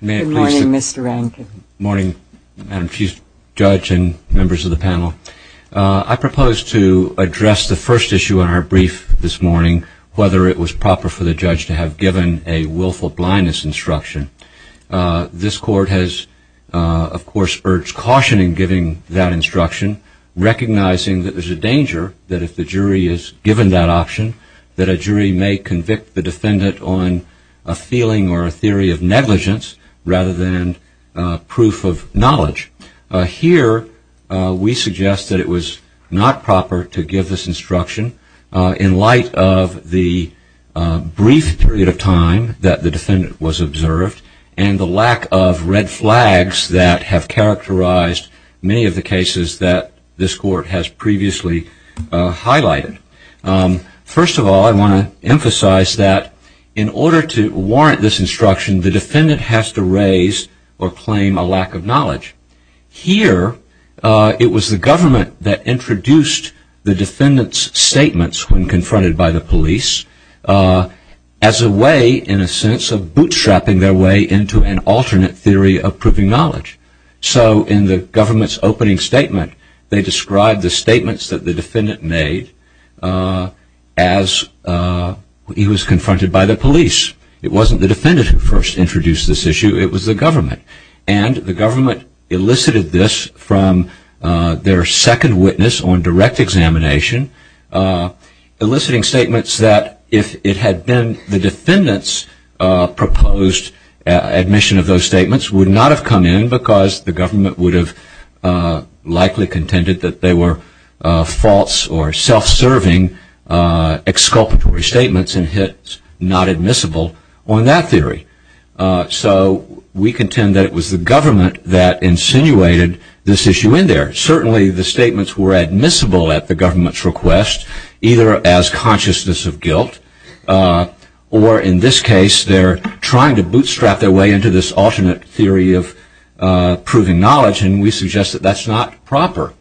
Good morning, Mr. Rankin. Good morning, Madam Chief Judge and members of the panel. I propose to address the first issue in our brief this morning, whether it was proper for the judge to have given a willful blindness instruction. This court has, of course, urged caution in giving that instruction, recognizing that there's a danger that if the jury is given that option, that a jury may convict the defendant on a feeling or a theory of negligence, rather than proof of knowledge. Here, we suggest that it was not proper to give this instruction, in light of the brief period of time that the defendant was observed, and the lack of red flags that have characterized many of the cases that this court has previously highlighted. First of all, I want to emphasize that in order to warrant this instruction, the defendant has to raise or claim a lack of knowledge. Here, it was the government that introduced the defendant's statements when confronted by the police, as a way, in a sense, of bootstrapping their way into an alternate theory of proving knowledge. So in the government's opening statement, they described the statements that the defendant made as he was confronted by the police. It wasn't the defendant who first introduced this issue, it was the government. And the government elicited this from their second witness on direct examination, eliciting statements that if it had been the defendant's proposed admission of those statements, would not have come in because the government would have likely contended that they were false or self-serving exculpatory statements and hence not admissible on that theory. So we contend that it was the government that insinuated this issue in there. Certainly, the statements were admissible at the government's request, either as consciousness of guilt, or in this case, they're trying to bootstrap their way into this alternate theory of proving knowledge, and we suggest that that's not proper.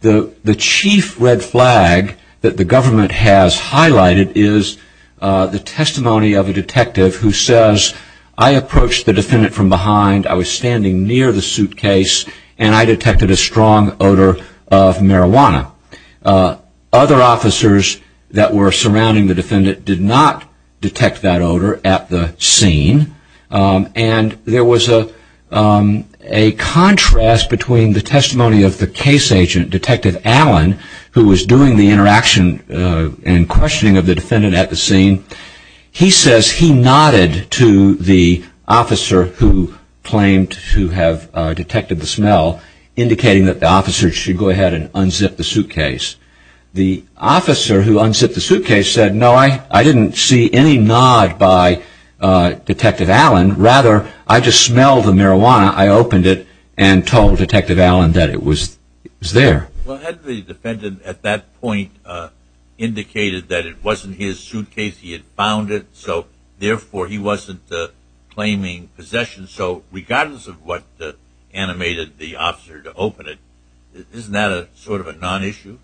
The chief red flag that the government has highlighted is the testimony of a detective who says, I approached the defendant from behind, I was standing near the suitcase, and I detected a strong odor of marijuana. Other officers that were surrounding the defendant did not detect that odor at the scene, and there was a contrast between the testimony of the case agent, Detective Allen, who was doing the interaction and questioning of the defendant at the scene. He says he nodded to the officer who claimed to have detected the smell, indicating that the officer should go ahead and unzip the suitcase. The officer who unzipped the suitcase said, no, I didn't see any nod by Detective Allen, rather, I just smelled the marijuana, I opened it, and told Detective Allen that it was there. Well, hadn't the defendant at that point indicated that it wasn't his suitcase, he had found it, so therefore he wasn't claiming possession, so regardless of what animated the officer to open it, isn't that sort of a non-issue?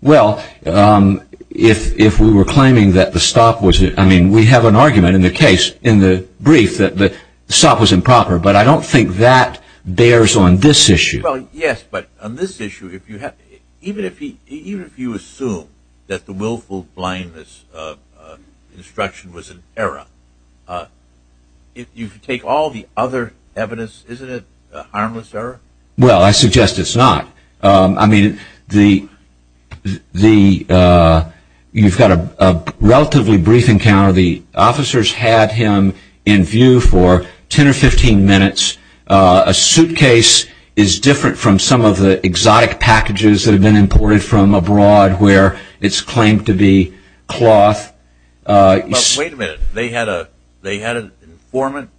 Well, if we were claiming that the stop was, I mean, we have an argument in the case, in the brief, that the stop was improper, but I don't think that bears on this issue. Well, yes, but on this issue, even if you assume that the willful blindness instruction was an error, if you take all the other evidence, isn't it a harmless error? Well, I suggest it's not. I mean, you've got a relatively brief encounter, the officers had him in view for 10 or 15 minutes, a suitcase is different from some of the exotic packages that have been imported from abroad, where it's claimed to be cloth. But wait a minute, they had an informant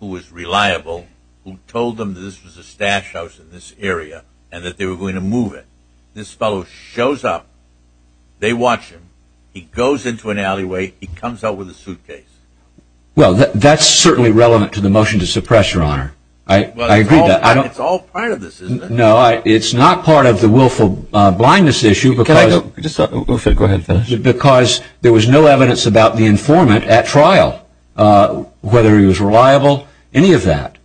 who was reliable, who told them that this was a stash house in this area, and that they were going to move it. This fellow shows up, they watch him, he goes into an alleyway, he comes out with a suitcase. Well, that's certainly relevant to the motion to suppress, Your Honor. I agree. It's all part of this, isn't it? No, it's not part of the willful blindness issue because there was no evidence about the informant at trial, whether he was reliable, any of that.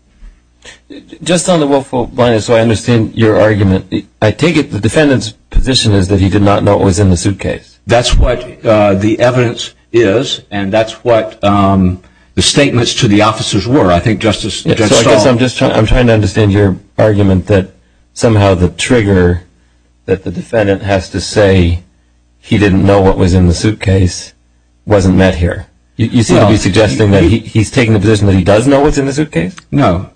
Just on the willful blindness, I understand your argument. I take it the defendant's position is that he did not know it was in the suitcase. That's what the evidence is, and that's what the statements to the officers were. I think Justice Stahl – So I guess I'm trying to understand your argument that somehow the trigger that the defendant has to say he didn't know what was in the suitcase wasn't met here. You seem to be suggesting that he's taking the position that he does know what's in the suitcase? No.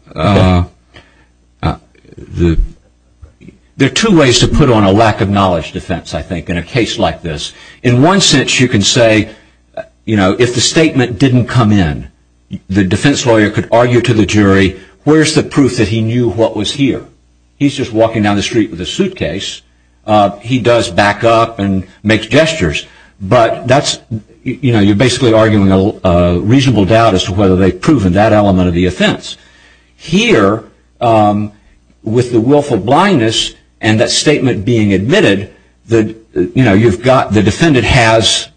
There are two ways to put on a lack of knowledge defense, I think, in a case like this. In one sense, you can say if the statement didn't come in, the defense lawyer could argue to the jury, where's the proof that he knew what was here? He's just walking down the street with a suitcase. He does back up and makes gestures, but you're basically arguing a reasonable doubt as to whether they've proven that element of the offense. Here, with the willful blindness and that statement being admitted, the defendant has,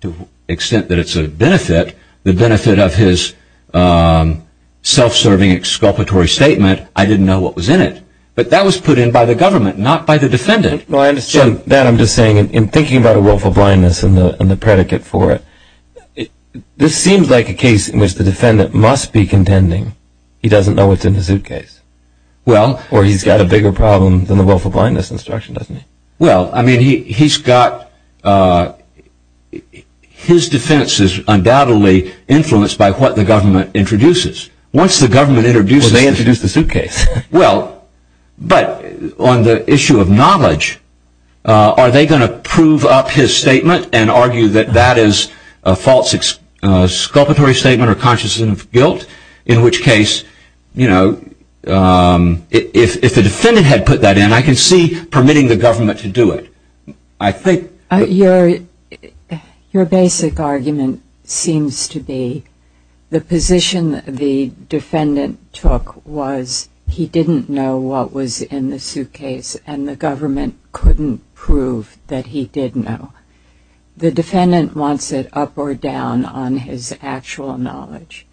to the extent that it's a benefit, the benefit of his self-serving exculpatory statement, I didn't know what was in it. But that was put in by the government, not by the defendant. I understand that. I'm just saying, in thinking about a willful blindness and the predicate for it, this seems like a case in which the defendant must be contending he doesn't know what's in the suitcase. Or he's got a bigger problem than the willful blindness instruction, doesn't he? Well, I mean, his defense is undoubtedly influenced by what the government introduces. Once the government introduces the suitcase, well, but on the issue of knowledge, are they going to prove up his statement and argue that that is a false exculpatory statement or consciousness of guilt? In which case, you know, if the defendant had put that in, I can see permitting the government to do it. I think... Your basic argument seems to be the position the defendant took was he didn't know what was in the suitcase and the government couldn't prove that he did know. The defendant wants it up or down on his actual knowledge.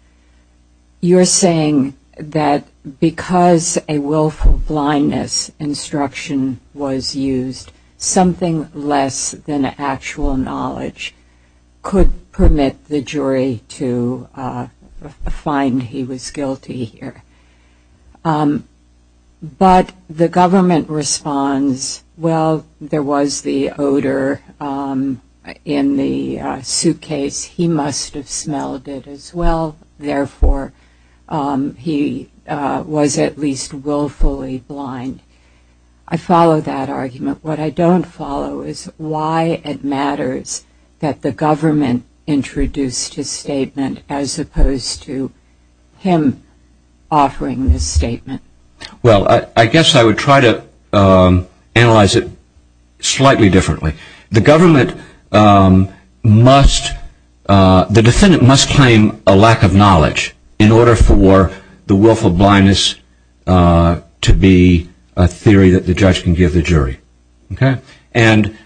You're saying that because a willful blindness instruction was used, something less than actual knowledge could permit the jury to find he was guilty here. But the government responds, well, there was the odor in the suitcase. He must have smelled it as well. Therefore, he was at least willfully blind. I follow that argument. What I don't follow is why it matters that the government introduced his statement as opposed to him offering this statement. Well, I guess I would try to analyze it slightly differently. The government must... The defendant must claim a lack of knowledge in order for the willful blindness to be a theory that the judge can give the jury. Okay? And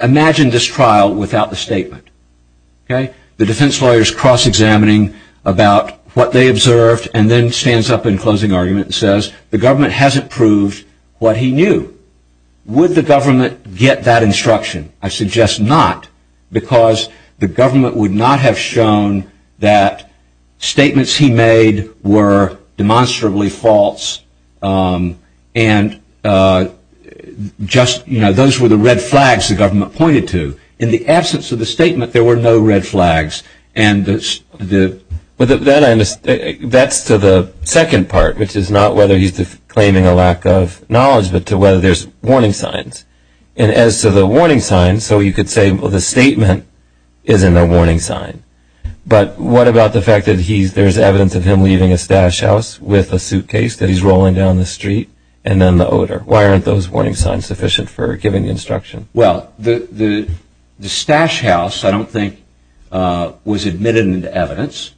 imagine this trial without the statement. Okay? The defense lawyer is cross-examining about what they observed and then stands up in closing argument and says, the government hasn't proved what he knew. Would the government get that instruction? I suggest not because the government would not have shown that statements he made were demonstrably false and just, you know, those were the red flags the government pointed to. In the absence of the statement, there were no red flags. That's to the second part, which is not whether he's claiming a lack of knowledge, but to whether there's warning signs. And as to the warning signs, so you could say, well, the statement is in the warning sign. But what about the fact that there's evidence of him leaving his stash house with a suitcase that he's rolling down the street and then the odor? Why aren't those warning signs sufficient for giving the instruction? Well, the stash house, I don't think, was admitted into evidence.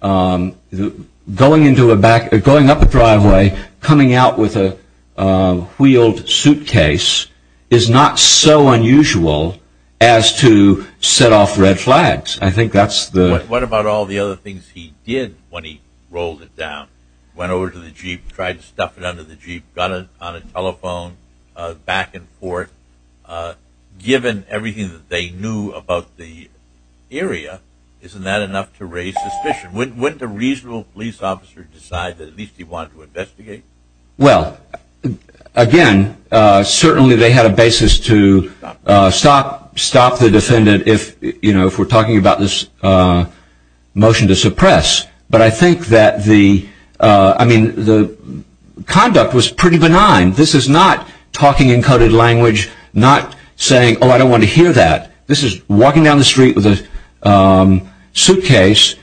Going up a driveway, coming out with a wheeled suitcase is not so unusual as to set off red flags. I think that's the... What about all the other things he did when he rolled it down? Went over to the Jeep, tried to stuff it under the Jeep, got it on a telephone, back and forth. Given everything that they knew about the area, isn't that enough to raise suspicion? Wouldn't a reasonable police officer decide that at least he wanted to investigate? Well, again, certainly they had a basis to stop the defendant if, you know, if we're talking about this motion to suppress. But I think that the, I mean, the conduct was pretty benign. This is not talking in coded language, not saying, oh, I don't want to hear that. This is walking down the street with a suitcase,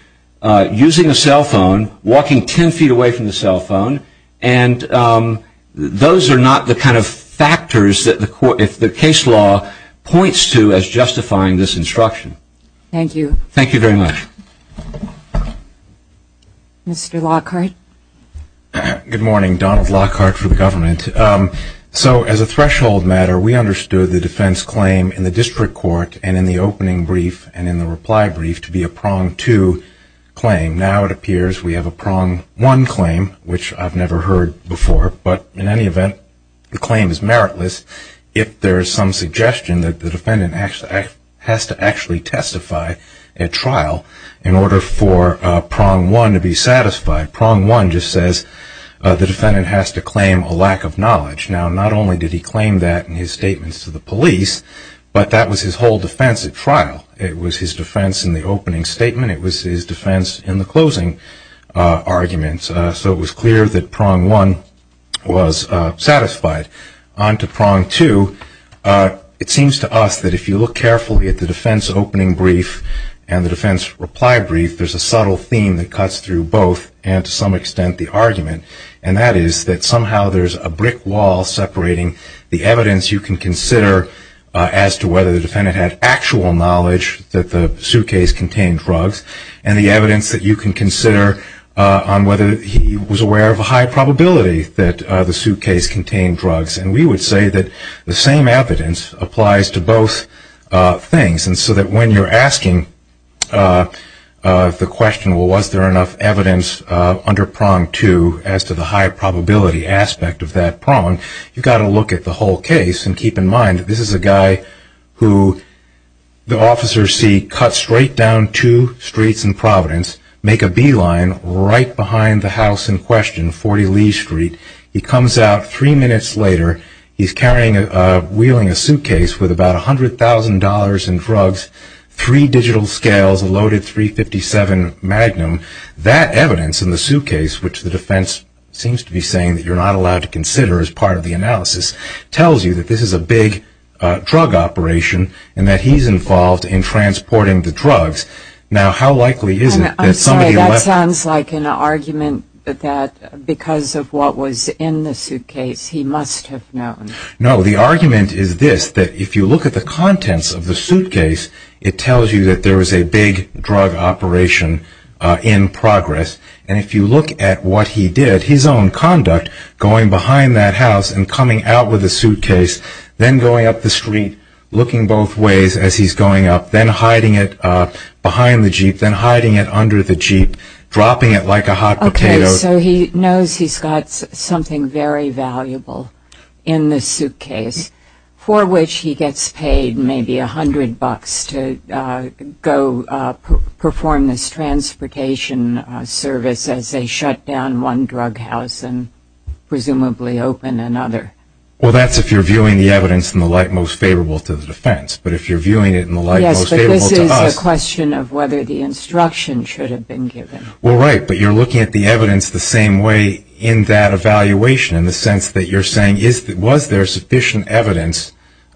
using a cell phone, walking 10 feet away from the cell phone. And those are not the kind of factors that the case law points to as justifying this instruction. Thank you. Thank you very much. Mr. Lockhart. Good morning. Donald Lockhart for the government. So as a threshold matter, we understood the defense claim in the district court and in the opening brief and in the reply brief to be a prong two claim. Now it appears we have a prong one claim, which I've never heard before. But in any event, the claim is meritless if there is some suggestion that the defendant has to actually testify at trial in order for prong one to be satisfied. Prong one just says the defendant has to claim a lack of knowledge. Now not only did he claim that in his statements to the police, but that was his whole defense at trial. It was his defense in the opening statement. It was his defense in the closing arguments. So it was clear that prong one was satisfied. On to prong two, it seems to us that if you look carefully at the defense opening brief and the defense reply brief, there's a subtle theme that cuts through both and to some extent the argument, and that is that somehow there's a brick wall separating the evidence you can consider as to whether the defendant had actual knowledge that the suitcase contained drugs and the evidence that you can consider on whether he was aware of a high probability that the suitcase contained drugs. And we would say that the same evidence applies to both things. And so that when you're asking the question, well, was there enough evidence under prong two as to the high probability aspect of that prong, you've got to look at the whole case and keep in mind that this is a guy who the officers see cut straight down two streets in Providence, make a beeline right behind the house in question, 40 Lee Street. He comes out three minutes later. He's wheeling a suitcase with about $100,000 in drugs, three digital scales, a loaded .357 Magnum. That evidence in the suitcase, which the defense seems to be saying that you're not allowed to consider as part of the analysis, tells you that this is a big drug operation and that he's involved in transporting the drugs. Now, how likely is it that somebody left? I'm sorry, that sounds like an argument that because of what was in the suitcase he must have known. No, the argument is this, that if you look at the contents of the suitcase, it tells you that there was a big drug operation in progress. And if you look at what he did, his own conduct, going behind that house and coming out with a suitcase, then going up the street, looking both ways as he's going up, then hiding it behind the Jeep, then hiding it under the Jeep, dropping it like a hot potato. Okay, so he knows he's got something very valuable in the suitcase, for which he gets paid maybe a hundred bucks to go perform this transportation service as they shut down one drug house and presumably open another. Well, that's if you're viewing the evidence in the light most favorable to the defense. But if you're viewing it in the light most favorable to us. Yes, but this is a question of whether the instruction should have been given. Well, right, but you're looking at the evidence the same way in that evaluation, in the sense that you're saying was there sufficient evidence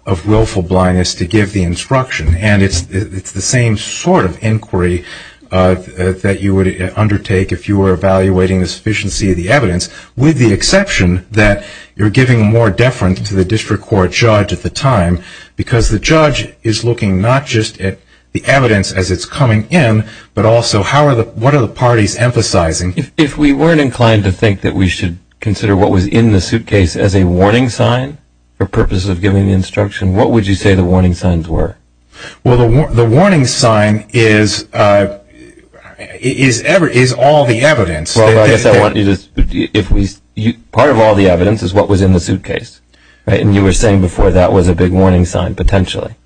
of willful blindness to give the instruction. And it's the same sort of inquiry that you would undertake if you were evaluating the sufficiency of the evidence, with the exception that you're giving more deference to the district court judge at the time, because the judge is looking not just at the evidence as it's coming in, but also what are the parties emphasizing. If we weren't inclined to think that we should consider what was in the suitcase as a warning sign for purposes of giving the instruction, what would you say the warning signs were? Well, the warning sign is all the evidence. Well, I guess I want you to, part of all the evidence is what was in the suitcase. And you were saying before that was a big warning sign, potentially.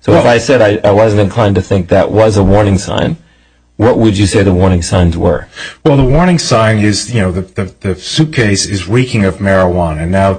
So if I said I wasn't inclined to think that was a warning sign, what would you say the warning signs were? Well, the warning sign is, you know, the suitcase is reeking of marijuana. Now,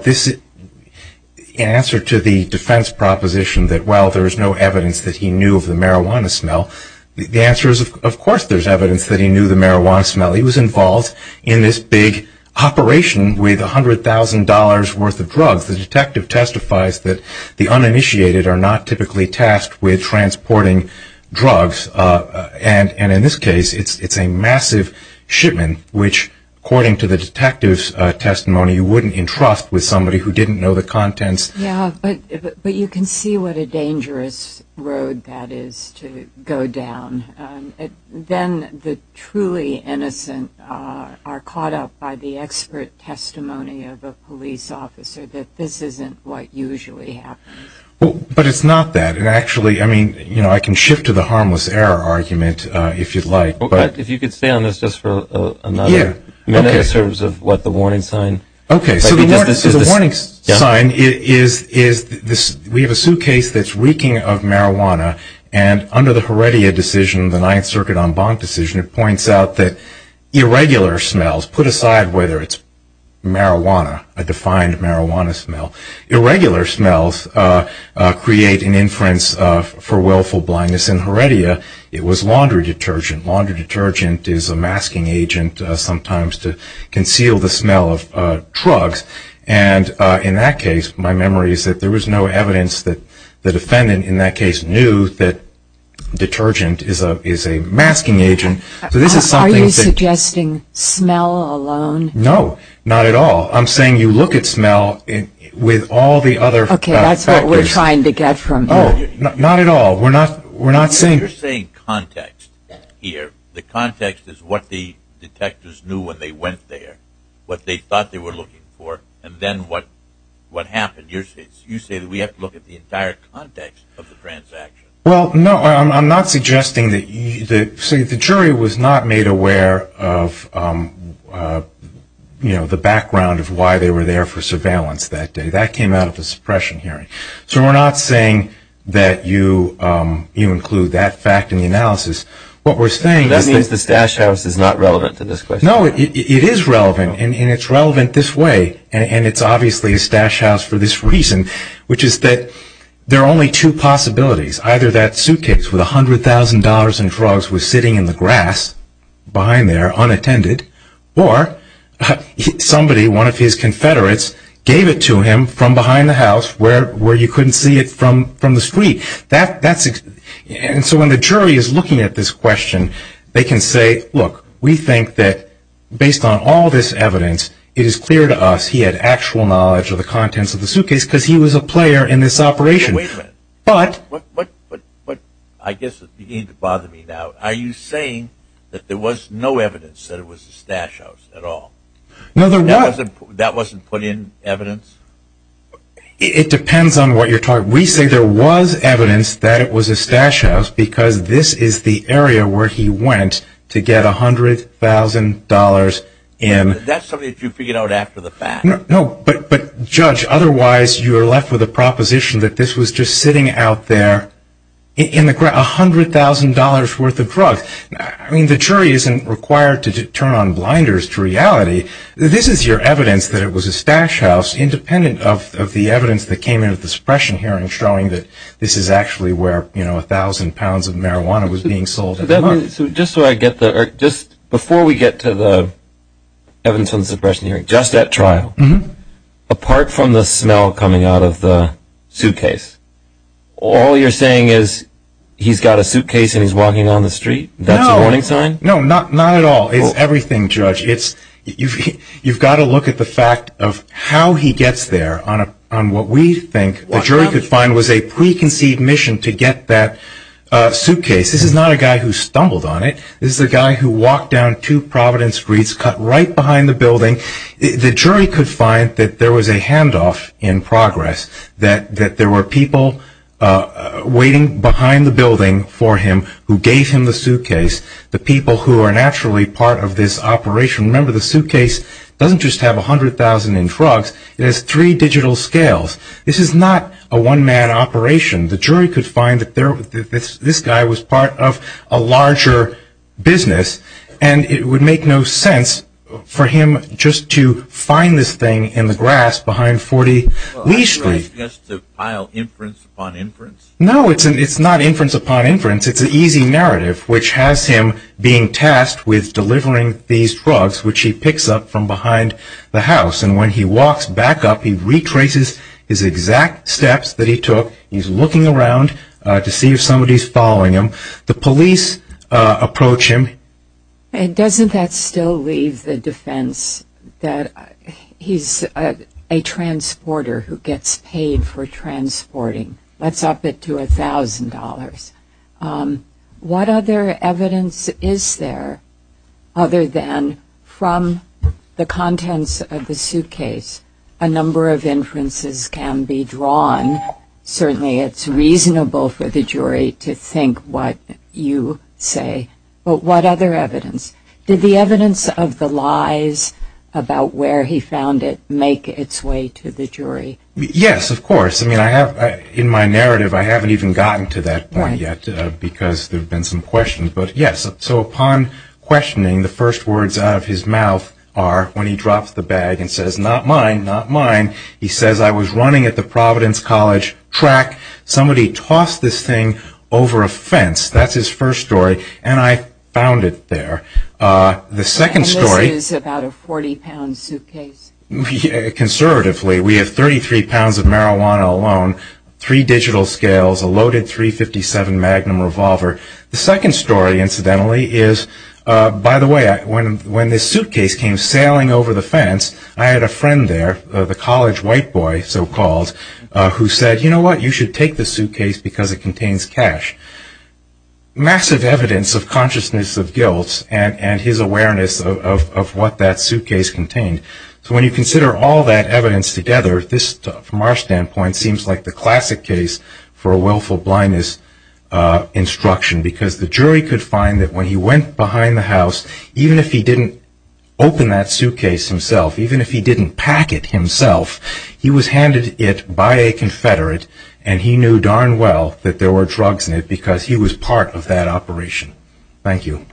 in answer to the defense proposition that, well, there is no evidence that he knew of the marijuana smell, the answer is, of course there's evidence that he knew the marijuana smell. He was involved in this big operation with $100,000 worth of drugs. The detective testifies that the uninitiated are not typically tasked with transporting drugs. And in this case, it's a massive shipment which, according to the detective's testimony, you wouldn't entrust with somebody who didn't know the contents. Yeah, but you can see what a dangerous road that is to go down. Then the truly innocent are caught up by the expert testimony of a police officer that this isn't what usually happens. But it's not that. And actually, I mean, you know, I can shift to the harmless error argument if you'd like. If you could stay on this just for another minute in terms of what the warning sign is. Okay, so the warning sign is we have a suitcase that's reeking of marijuana, and under the Heredia decision, the Ninth Circuit en banc decision, it points out that irregular smells, put aside whether it's marijuana, a defined marijuana smell, irregular smells create an inference for willful blindness. In Heredia, it was laundry detergent. Laundry detergent is a masking agent sometimes to conceal the smell of drugs. And in that case, my memory is that there was no evidence that the defendant in that case knew that detergent is a masking agent. Are you suggesting smell alone? No, not at all. I'm saying you look at smell with all the other factors. Okay, that's what we're trying to get from you. Not at all. We're not saying. You're saying context here. The context is what the detectives knew when they went there, what they thought they were looking for, and then what happened. You say that we have to look at the entire context of the transaction. Well, no, I'm not suggesting that you see the jury was not made aware of, you know, the background of why they were there for surveillance that day. That came out of a suppression hearing. So we're not saying that you include that fact in the analysis. What we're saying is that. That means the stash house is not relevant to this question. No, it is relevant, and it's relevant this way, and it's obviously a stash house for this reason, which is that there are only two possibilities. Either that suitcase with $100,000 in drugs was sitting in the grass behind there unattended, or somebody, one of his confederates, gave it to him from behind the house where you couldn't see it from the street. And so when the jury is looking at this question, they can say, look, we think that based on all this evidence, it is clear to us he had actual knowledge of the contents of the suitcase because he was a player in this operation. Wait a minute. But. I guess it's beginning to bother me now. Are you saying that there was no evidence that it was a stash house at all? No, there wasn't. That wasn't put in evidence? It depends on what you're talking about. We say there was evidence that it was a stash house because this is the area where he went to get $100,000 in. That's something that you figured out after the fact. No, but, Judge, otherwise you are left with a proposition that this was just sitting out there in the grass, $100,000 worth of drugs. I mean, the jury isn't required to turn on blinders to reality. This is your evidence that it was a stash house independent of the evidence that came in at the suppression hearing showing that this is actually where, you know, a thousand pounds of marijuana was being sold. Just before we get to the evidence from the suppression hearing, just at trial, apart from the smell coming out of the suitcase, all you're saying is he's got a suitcase and he's walking down the street? No. That's a warning sign? No, not at all. It's everything, Judge. You've got to look at the fact of how he gets there on what we think the jury could find was a preconceived mission to get that suitcase. This is not a guy who stumbled on it. This is a guy who walked down two Providence streets, cut right behind the building. The jury could find that there was a handoff in progress, that there were people waiting behind the building for him who gave him the suitcase, the people who are naturally part of this operation. Remember, the suitcase doesn't just have $100,000 in drugs. It has three digital scales. This is not a one-man operation. The jury could find that this guy was part of a larger business, and it would make no sense for him just to find this thing in the grass behind 40 Lee Street. Are you asking us to pile inference upon inference? No, it's not inference upon inference. It's an easy narrative, which has him being tasked with delivering these drugs, which he picks up from behind the house. And when he walks back up, he retraces his exact steps that he took. He's looking around to see if somebody's following him. The police approach him. And doesn't that still leave the defense that he's a transporter who gets paid for transporting? What other evidence is there, other than from the contents of the suitcase, a number of inferences can be drawn? Certainly it's reasonable for the jury to think what you say. But what other evidence? Did the evidence of the lies about where he found it make its way to the jury? Yes, of course. In my narrative, I haven't even gotten to that point yet, because there have been some questions. So upon questioning, the first words out of his mouth are, when he drops the bag and says, not mine, not mine, he says, I was running at the Providence College track. Somebody tossed this thing over a fence. That's his first story. And I found it there. And this is about a 40-pound suitcase. Conservatively, we have 33 pounds of marijuana alone, three digital scales, a loaded .357 Magnum revolver. The second story, incidentally, is, by the way, when this suitcase came sailing over the fence, I had a friend there, the college white boy, so-called, who said, you know what, you should take the suitcase because it contains cash. Massive evidence of consciousness of guilt and his awareness of what that suitcase contained. So when you consider all that evidence together, this, from our standpoint, seems like the classic case for a willful blindness instruction, because the jury could find that when he went behind the house, even if he didn't open that suitcase himself, even if he didn't pack it himself, he was handed it by a Confederate, and he knew darn well that there were drugs in it because he was part of that operation. Thank you.